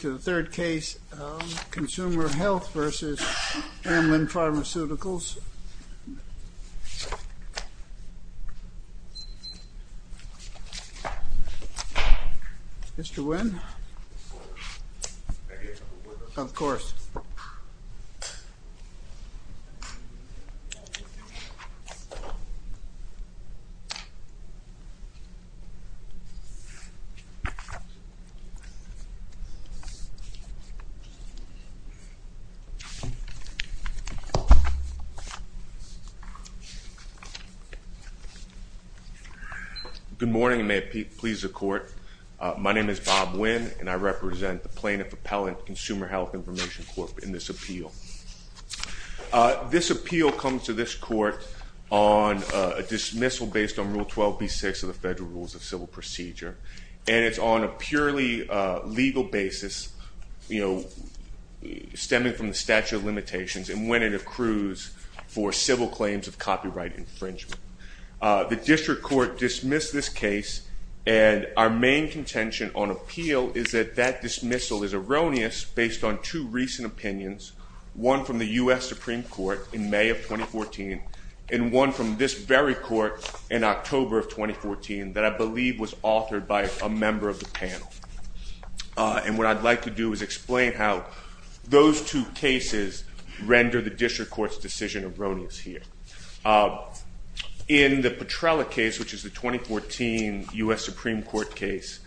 Consumer Health v. Amylin Pharmaceuticals Good morning, and may it please the Court. My name is Bob Winn, and I represent the Plaintiff-Appellant Consumer Health Information Court in this appeal. This appeal comes to this Court on a dismissal based on Rule 12b-6 of the Federal Rules of Justice, you know, stemming from the statute of limitations and when it accrues for civil claims of copyright infringement. The District Court dismissed this case, and our main contention on appeal is that that dismissal is erroneous based on two recent opinions, one from the U.S. Supreme Court in May of 2014 and one from this very Court in October of 2014 that I believe was authored by a member of the panel, and what I'd like to do is explain how those two cases render the District Court's decision erroneous here. In the Petrella case, which is the 2014 U.S. Supreme Court case,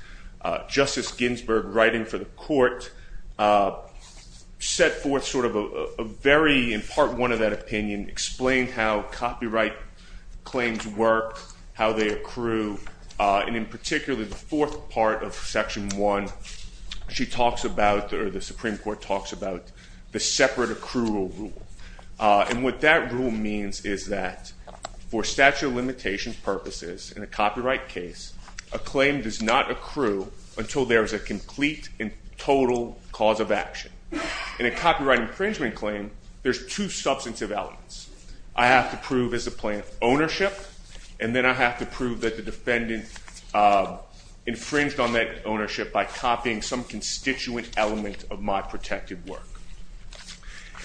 Justice Ginsburg, writing for the Court, set forth sort of a very, in part one of that opinion, explained how copyright claims work, how they accrue, and in particular, the fourth part of Section 1, she talks about or the Supreme Court talks about the separate accrual rule, and what that rule means is that for statute of limitations purposes in a copyright case, a claim does not accrue until there is a complete and total cause of action. In a copyright infringement claim, there's two substantive elements. I have to prove as a plaintiff ownership, and then I have to prove that the defendant infringed on that ownership by copying some constituent element of my protected work,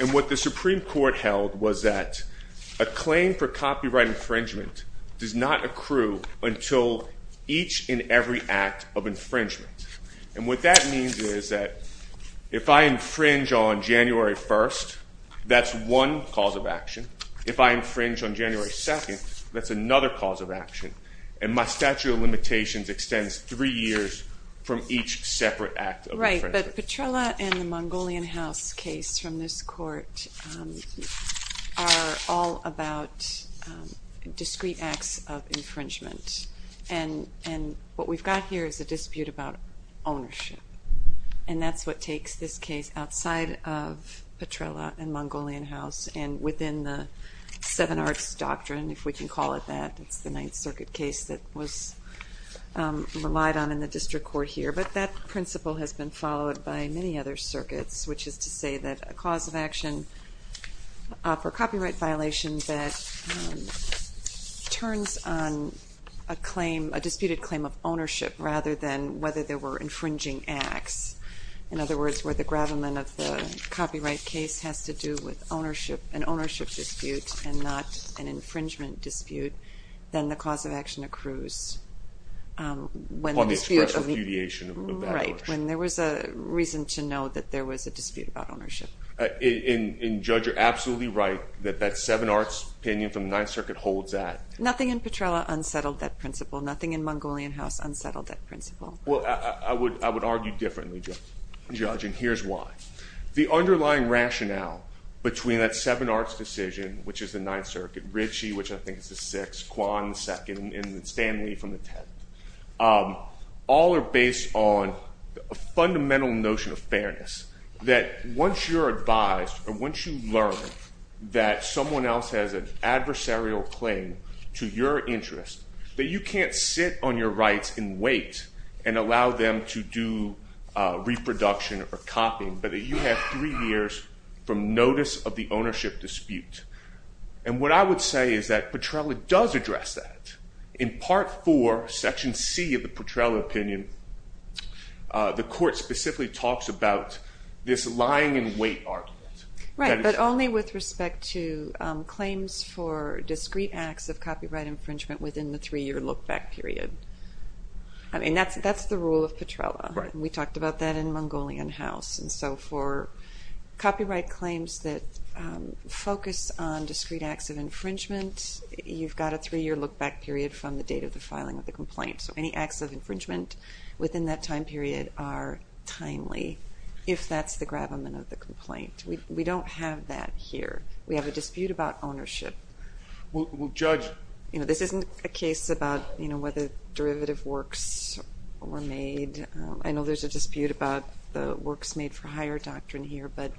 and what the Supreme Court held was that a claim for copyright infringement does not accrue until each and every act of infringement, and what that means is that if I infringe on January 1st, that's one cause of action. If I infringe on January 2nd, that's another cause of action, and my statute of limitations extends three years from each separate act of infringement. Right, but Petrella and the Mongolian House case from this Court are all about discrete acts of infringement, and what we've got here is a dispute about ownership, and that's what of Petrella and Mongolian House, and within the Seven Arts Doctrine, if we can call it that, it's the Ninth Circuit case that was relied on in the District Court here, but that principle has been followed by many other circuits, which is to say that a cause of action for copyright violation that turns on a claim, a disputed claim of ownership rather than whether there were infringing acts, in other words, where the gravamen of the copyright case has to do with an ownership dispute and not an infringement dispute, then the cause of action accrues when there was a reason to know that there was a dispute about ownership. And, Judge, you're absolutely right that that Seven Arts opinion from the Ninth Circuit holds that. Nothing in Petrella unsettled that principle. Nothing in Mongolian House unsettled that principle. Well, I would argue differently, Judge, and here's why. The underlying rationale between that Seven Arts decision, which is the Ninth Circuit, Ritchie, which I think is the Sixth, Kwan, the Second, and Stanley from the Tenth, all are based on a fundamental notion of fairness, that once you're advised or once you learn that someone else has an adversarial claim to your interest, that you can't sit on your rights and wait and allow them to do reproduction or copying, but that you have three years from notice of the ownership dispute. And what I would say is that Petrella does address that. In Part 4, Section C of the Petrella opinion, the court specifically talks about this lying and wait argument. Right, but only with respect to claims for discrete acts of copyright infringement within the three-year look-back period. I mean, that's the rule of Petrella. We talked about that in Mongolian House. And so for copyright claims that focus on discrete acts of infringement, you've got a three-year look-back period from the date of the filing of the complaint. So any acts of infringement within that time period are timely, if that's the gravamen of the complaint. We don't have that here. We have a dispute about ownership. This isn't a case about whether derivative works were made. I know there's a dispute about the works made for hire doctrine here, but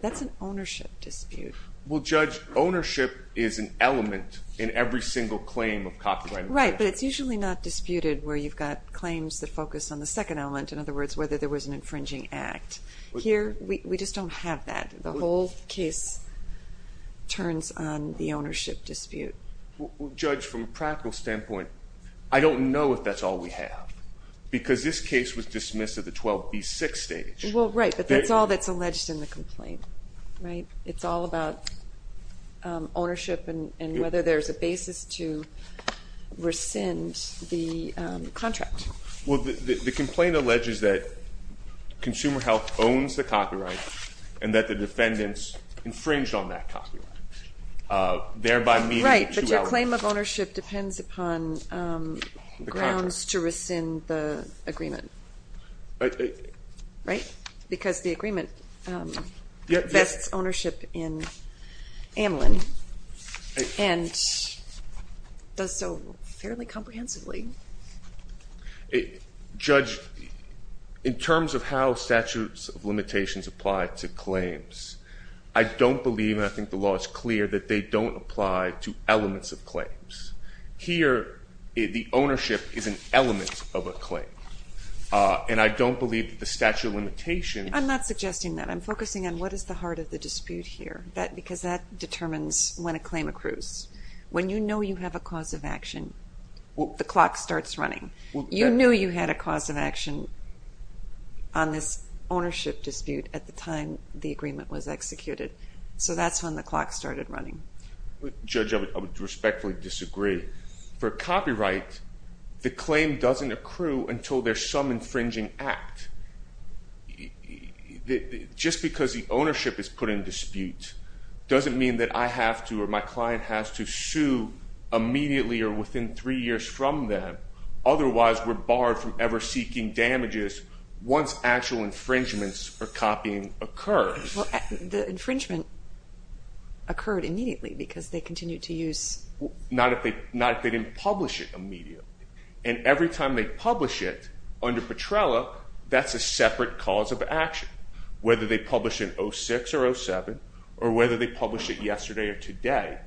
that's an ownership dispute. Well, Judge, ownership is an element in every single claim of copyright infringement. Right, but it's usually not disputed where you've got claims that focus on the second element, in other words, whether there was an infringing act. Here, we just don't have that. The whole case turns on the ownership dispute. Well, Judge, from a practical standpoint, I don't know if that's all we have, because this case was dismissed at the 12B6 stage. Well, right, but that's all that's alleged in the complaint, right? It's all about ownership and whether there's a basis to rescind the contract. Well, the complaint alleges that Consumer Health owns the copyright and that the defendants infringed on that copyright, thereby meeting the two elements. Right, but your claim of ownership depends upon grounds to rescind the agreement, right? Because the agreement vests ownership in Amlin and does so fairly comprehensively. Judge, in terms of how statutes of limitations apply to claims, I don't believe, and I think the law is clear, that they don't apply to elements of claims. Here, the ownership is an element of a claim, and I don't believe that the statute of limitations I'm not suggesting that. I'm focusing on what is the heart of the dispute here, because that determines when a claim accrues. When you know you have a cause of action, the clock starts running. You knew you had a cause of action on this ownership dispute at the time the agreement was executed, so that's when the clock started running. Judge, I would respectfully disagree. For copyright, the claim doesn't accrue until there's some infringing act. Just because the ownership is put in dispute doesn't mean that I have to or my client has to sue immediately or within three years from them. Otherwise, we're barred from ever seeking damages once actual infringements or copying occurs. The infringement occurred immediately because they continued to use... Not if they didn't publish it immediately, and every time they publish it under Petrella, that's a separate cause of action. Whether they publish it in 06 or 07, or whether they publish it yesterday or today,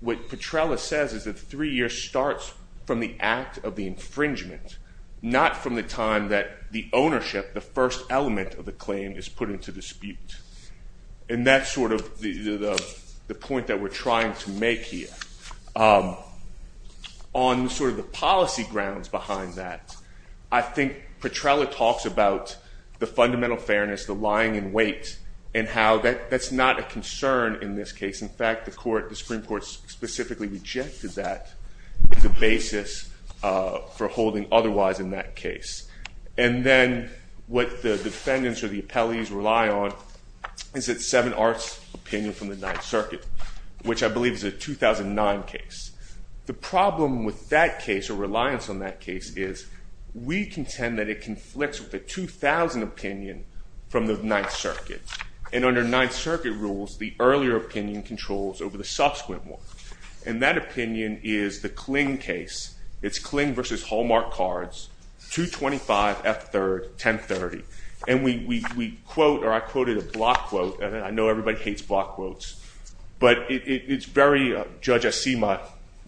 what Petrella says is that three years starts from the act of the infringement, not from the time that the ownership, the first element of the claim, is put into dispute. And that's sort of the point that we're trying to make here. On sort of the policy grounds behind that, I think Petrella talks about the fundamental fairness, the lying in wait, and how that's not a concern in this case. In fact, the Supreme Court specifically rejected that as a basis for holding otherwise in that case. And then what the defendants or the appellees rely on is that 7 Arts opinion from the Ninth Circuit, which I believe is a 2009 case. The problem with that case, or reliance on that case, is we contend that it conflicts with the 2000 opinion from the Ninth Circuit. And under Ninth Circuit rules, the earlier opinion controls over the subsequent one. And that opinion is the Kling case. It's Kling versus Hallmark Cards, 225 F3rd, 1030. And we quote, or I quoted a block quote, and I know everybody hates block quotes. But it's very, Judge, I see my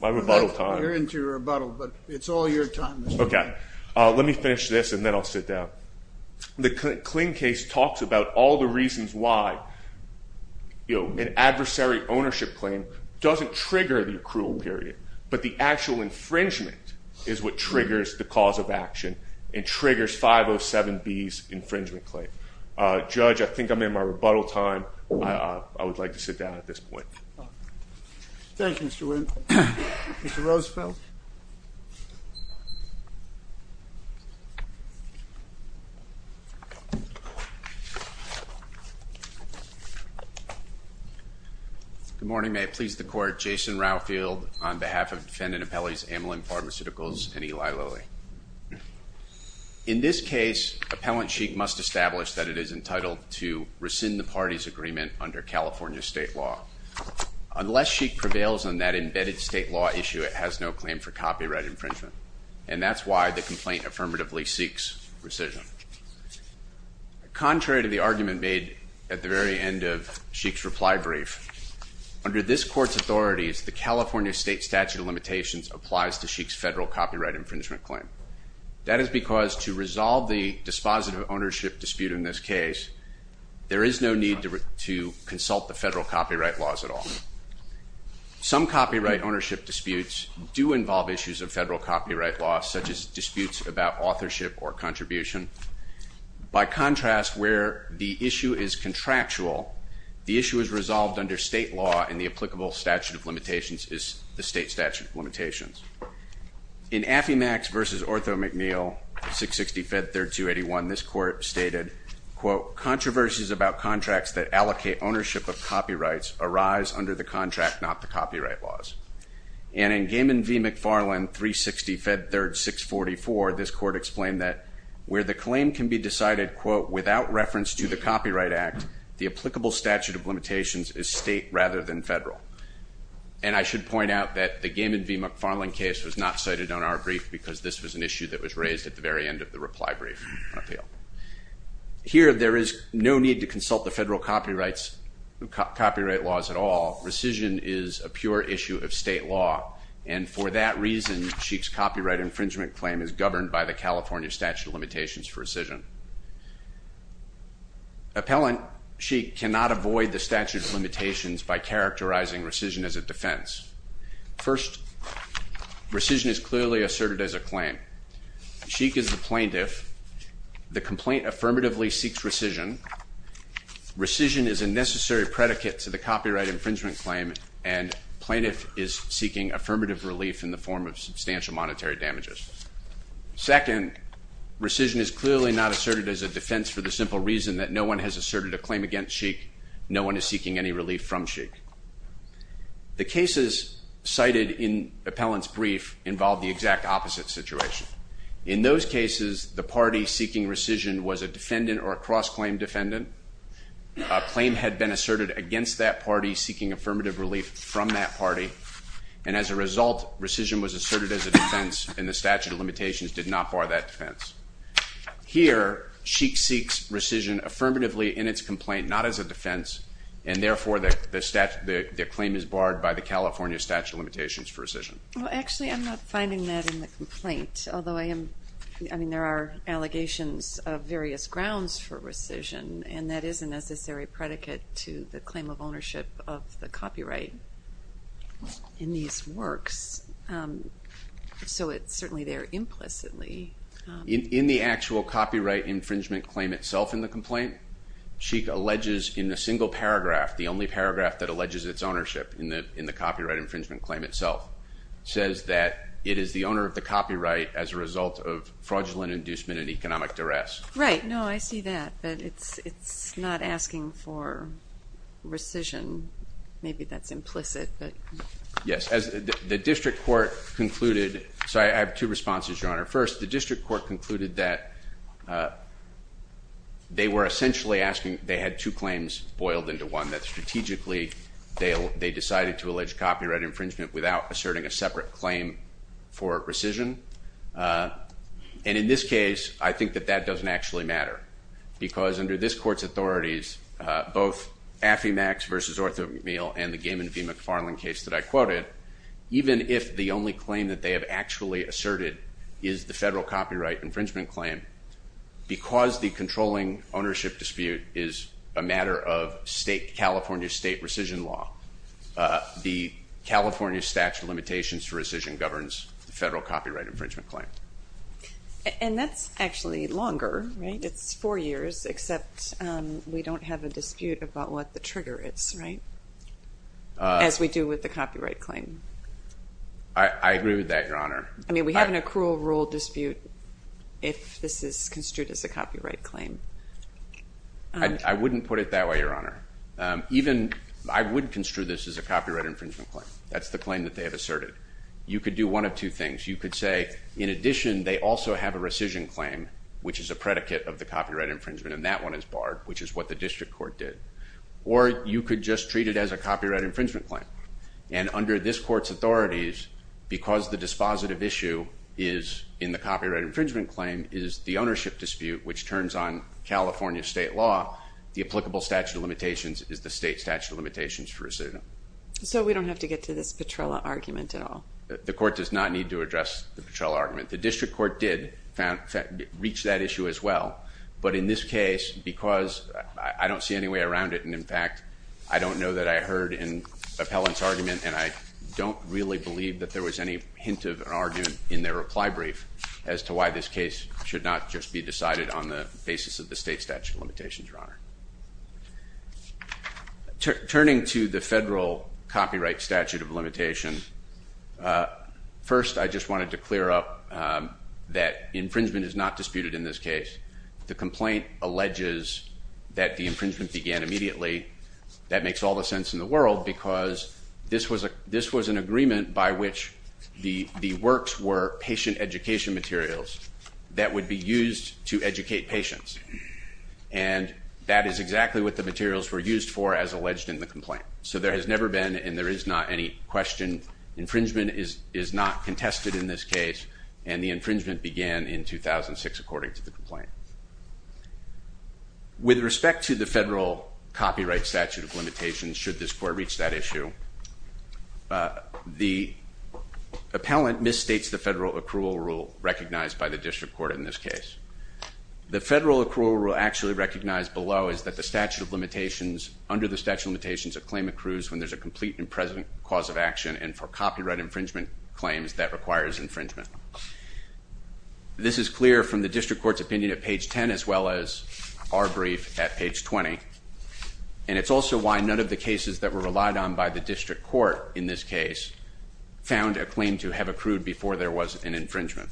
rebuttal time. You're into your rebuttal, but it's all your time this morning. Okay. Let me finish this, and then I'll sit down. The Kling case talks about all the reasons why an adversary ownership claim doesn't trigger the accrual period. But the actual infringement is what triggers the cause of action and triggers 507B's infringement claim. Judge, I think I'm in my rebuttal time. I would like to sit down at this point. Thank you, Mr. Winn. Mr. Roosevelt? Good morning. May it please the Court, Jason Raufield on behalf of Defendant Appellees Ameline Pharmaceuticals and Eli Lilly. In this case, Appellant Sheik must establish that it is entitled to rescind the party's agreement under California state law. Unless Sheik prevails on that embedded state law issue, it has no claim for copyright infringement. And that's why the complaint affirmatively seeks rescission. Contrary to the argument made at the very end of Sheik's reply brief, under this Court's authorities, the California state statute of limitations applies to Sheik's federal copyright infringement claim. That is because to resolve the dispositive ownership dispute in this case, there is no need to consult the federal copyright laws at all. Some copyright ownership disputes do involve issues of federal copyright law, such as disputes about authorship or contribution. By contrast, where the issue is contractual, the issue is resolved under state law, and the applicable statute of limitations is the state statute of limitations. In Affy Max v. Ortho McNeill, 660 Fed 3rd 281, this Court stated, quote, Controversies about contracts that allocate ownership of copyrights arise under the contract, not the copyright laws. And in Gaiman v. McFarland, 360 Fed 3rd 644, this Court explained that where the claim can be decided, quote, without reference to the Copyright Act, the applicable statute of limitations is state rather than federal. And I should point out that the Gaiman v. McFarland case was not cited on our brief because this was an issue that was raised at the very end of the reply brief on appeal. Here there is no need to consult the federal copyright laws at all. Rescission is a pure issue of state law, and for that reason, Sheik's copyright infringement claim is governed by the California statute of limitations for rescission. Appellant Sheik cannot avoid the statute of limitations by characterizing rescission as a defense. First, rescission is clearly asserted as a claim. Sheik is the plaintiff. The complaint affirmatively seeks rescission. Rescission is a necessary predicate to the copyright infringement claim, and plaintiff is seeking affirmative relief in the form of substantial monetary damages. Second, rescission is clearly not asserted as a defense for the simple reason that no one has asserted a claim against Sheik. No one is seeking any relief from Sheik. The cases cited in Appellant's brief involve the exact opposite situation. In those cases, the party seeking rescission was a defendant or a cross-claim defendant. A claim had been asserted against that party seeking affirmative relief from that party, and as a result, rescission was asserted as a defense, and the statute of limitations did not bar that defense. Here, Sheik seeks rescission affirmatively in its complaint, not as a defense, and therefore, the claim is barred by the California statute of limitations for rescission. Well, actually, I'm not finding that in the complaint, although I am, I mean, there are allegations of various grounds for rescission, and that is a necessary predicate to the claim of ownership of the copyright in these works, so it's certainly there implicitly. In the actual copyright infringement claim itself in the complaint, Sheik alleges in a single paragraph, the only paragraph that alleges its ownership in the copyright infringement claim itself, says that it is the owner of the copyright as a result of fraudulent inducement and economic duress. Right. No, I see that, but it's not asking for rescission. Maybe that's implicit. Yes. The district court concluded, so I have two responses, Your Honor. First, the district court concluded that they were essentially asking, they had two claims boiled into one, that strategically, they decided to allege copyright infringement without asserting a separate claim for rescission, and in this case, I think that that doesn't actually matter, because under this court's authorities, both Affy Max versus Arthur McNeil and the Gaiman v. McFarland case that I quoted, even if the only claim that they have actually asserted is the federal copyright infringement claim, because the controlling ownership dispute is a matter of California state rescission law, the California statute of limitations for rescission governs the federal copyright infringement claim. And that's actually longer, right? It's four years, except we don't have a dispute about what the trigger is, right? As we do with the copyright claim. I agree with that, Your Honor. I mean, we have an accrual rule dispute if this is construed as a copyright claim. I wouldn't put it that way, Your Honor. I would construe this as a copyright infringement claim. That's the claim that they have asserted. You could do one of two things. You could say, in addition, they also have a rescission claim, which is a predicate of the copyright infringement, and that one is barred, which is what the district court did. Or you could just treat it as a copyright infringement claim. And under this court's authorities, because the dispositive issue is in the copyright infringement claim is the ownership dispute, which turns on California state law, the applicable statute of limitations is the state statute of limitations for rescission. So we don't have to get to this Petrella argument at all? The court does not need to address the Petrella argument. The district court did reach that issue as well. But in this case, because I don't see any way around it, and in fact, I don't know that I heard an appellant's argument, and I don't really believe that there was any hint of an argument in their reply brief as to why this case should not just be decided on the basis of the state statute of limitations, Your Honor. Turning to the federal copyright statute of limitations, first I just wanted to clear up that infringement is not disputed in this case. The complaint alleges that the infringement began immediately. That makes all the sense in the world because this was an agreement by which the works were patient education materials that would be used to educate patients. And that is exactly what the materials were used for as alleged in the complaint. So there has never been, and there is not any question, infringement is not contested in this case, and the infringement began in 2006 according to the complaint. With respect to the federal copyright statute of limitations, should this court reach that issue, the appellant misstates the federal accrual rule recognized by the district court in this case. The federal accrual rule actually recognized below is that the statute of limitations, under the statute of limitations, a claim accrues when there is a complete and present cause of action and for copyright infringement claims that requires infringement. This is clear from the district court's opinion at page 10 as well as our brief at page 20. And it's also why none of the cases that were relied on by the district court in this case found a claim to have accrued before there was an infringement.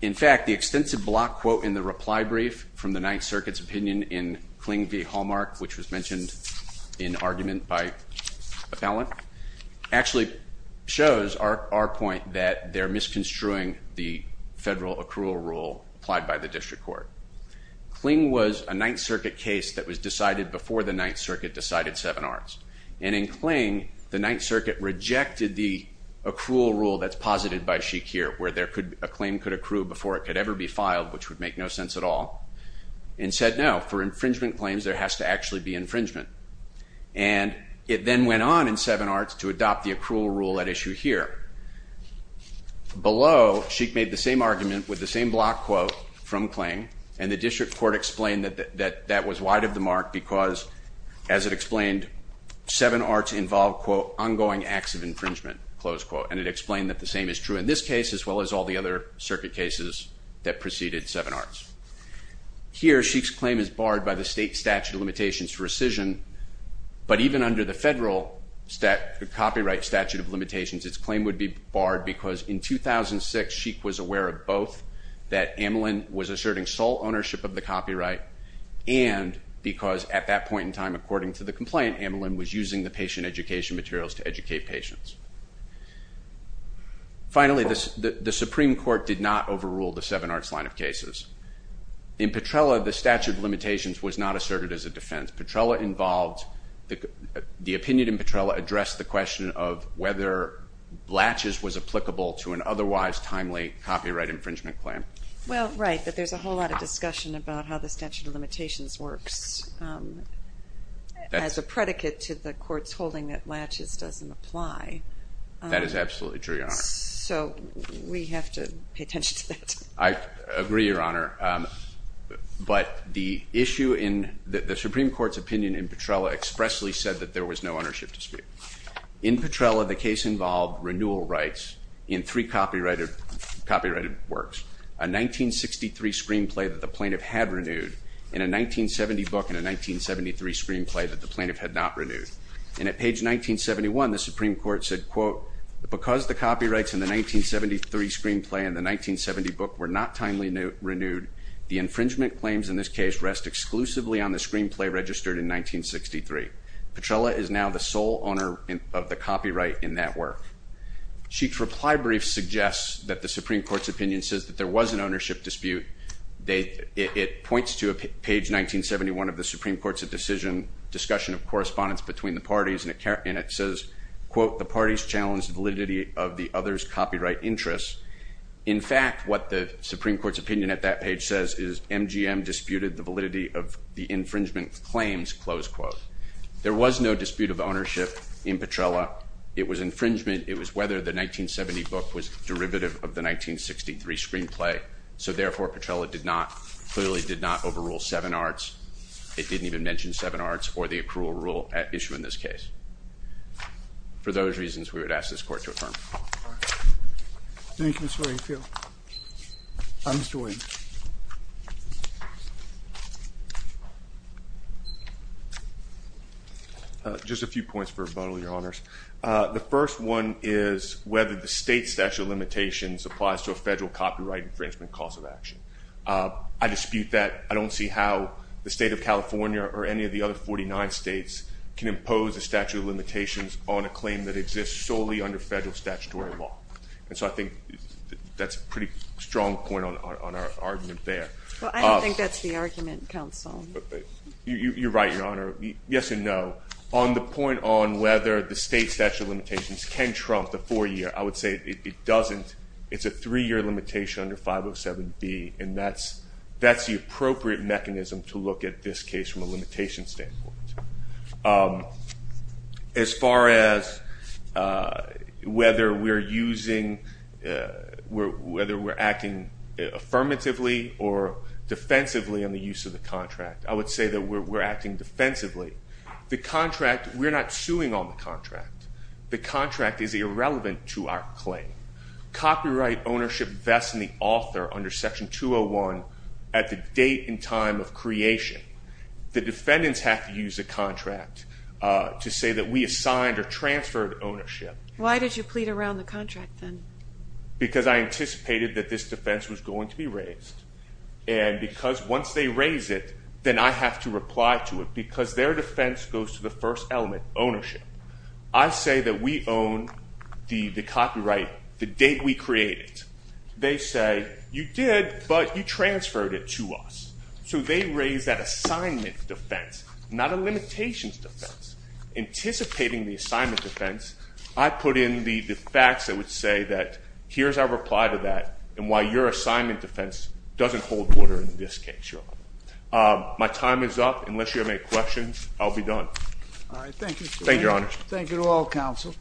In fact, the extensive block quote in the reply brief from the Ninth Circuit's opinion in Kling v. Hallmark, which was mentioned in argument by appellant, actually shows our point that they're misconstruing the federal accrual rule applied by the district court. Kling was a Ninth Circuit case that was decided before the Ninth Circuit decided Seven Arts. And in Kling, the Ninth Circuit rejected the accrual rule that's posited by Shakir, where a claim could accrue before it could ever be filed, which would make no sense at all. And said, no, for infringement claims, there has to actually be infringement. And it then went on in Seven Arts to adopt the accrual rule at issue here. Below, Shake made the same argument with the same block quote from Kling, and the district court explained that that was wide of the mark because, as it explained, Seven Arts involved, quote, ongoing acts of infringement, close quote. And it explained that the same is true in this case, as well as all the other circuit cases that preceded Seven Arts. Here, Shake's claim is barred by the state statute of limitations for rescission, but even under the federal copyright statute of limitations, its claim would be barred because in 2006, Shake was aware of both, that Amelin was asserting sole ownership of the copyright, and because at that point in time, according to the complaint, Amelin was using the patient education materials to educate patients. Finally, the Supreme Court did not overrule the Seven Arts line of cases. In Petrella, the statute of limitations was not asserted as a defense. Petrella involved, the opinion in Petrella addressed the question of whether Latches was applicable to an otherwise timely copyright infringement claim. Well, right, but there's a whole lot of discussion about how the statute of limitations works as a predicate to the court's holding that Latches doesn't apply. That is absolutely true, Your Honor. So, we have to pay attention to that. I agree, Your Honor, but the issue in the Supreme Court's opinion in Petrella expressly said that there was no ownership dispute. In Petrella, the case involved renewal rights in three copyrighted works. A 1963 screenplay that the plaintiff had renewed, and a 1970 book and a 1973 screenplay that the plaintiff had not renewed. And at page 1971, the Supreme Court said, quote, because the copyrights in the 1973 screenplay and the 1970 book were not timely renewed, the infringement claims in this case rest exclusively on the screenplay registered in 1963. Petrella is now the sole owner of the copyright in that work. Sheik's reply brief suggests that the Supreme Court's opinion says that there was an ownership dispute. It points to page 1971 of the Supreme Court's decision, discussion of correspondence between the parties, and it says, quote, the parties challenged validity of the others' copyright interests. In fact, what the Supreme Court's opinion at that page says is MGM disputed the validity of the infringement claims, close quote. There was no dispute of ownership in Petrella. It was infringement. It was whether the 1970 book was derivative of the 1963 screenplay. So, therefore, Petrella did not, clearly did not overrule Seven Arts. It didn't even mention Seven Arts or the accrual rule at issue in this case. For those reasons, we would ask this court to affirm. Thank you, Mr. Wakefield. Mr. Williams. Just a few points for rebuttal, Your Honors. The first one is whether the state statute of limitations applies to a federal copyright infringement cause of action. I dispute that. I don't see how the state of California or any of the other 49 states can impose a statute of limitations on a claim that exists solely under federal statutory law. And so I think that's a pretty strong point on our argument there. Well, I don't think that's the argument, counsel. You're right, Your Honor. Yes and no. On the point on whether the state statute of limitations can trump the four-year, I would say it doesn't. It's a three-year limitation under 507B, and that's the appropriate mechanism to look at this case from a limitation standpoint. As far as whether we're acting affirmatively or defensively on the use of the contract, I would say that we're acting defensively. The contract, we're not suing on the contract. The contract is irrelevant to our claim. Copyright ownership vests in the author under Section 201 at the date and time of creation. The defendants have to use the contract to say that we assigned or transferred ownership. Why did you plead around the contract then? Because I anticipated that this defense was going to be raised, and because once they raise it, then I have to reply to it because their defense goes to the first element, ownership. I say that we own the copyright the date we created it. They say, You did, but you transferred it to us. So they raise that assignment defense, not a limitations defense. Anticipating the assignment defense, I put in the facts that would say that here's our reply to that and why your assignment defense doesn't hold water in this case, Your Honor. My time is up. Unless you have any questions, I'll be done. All right. Thank you, Your Honor. Thank you to all counsel.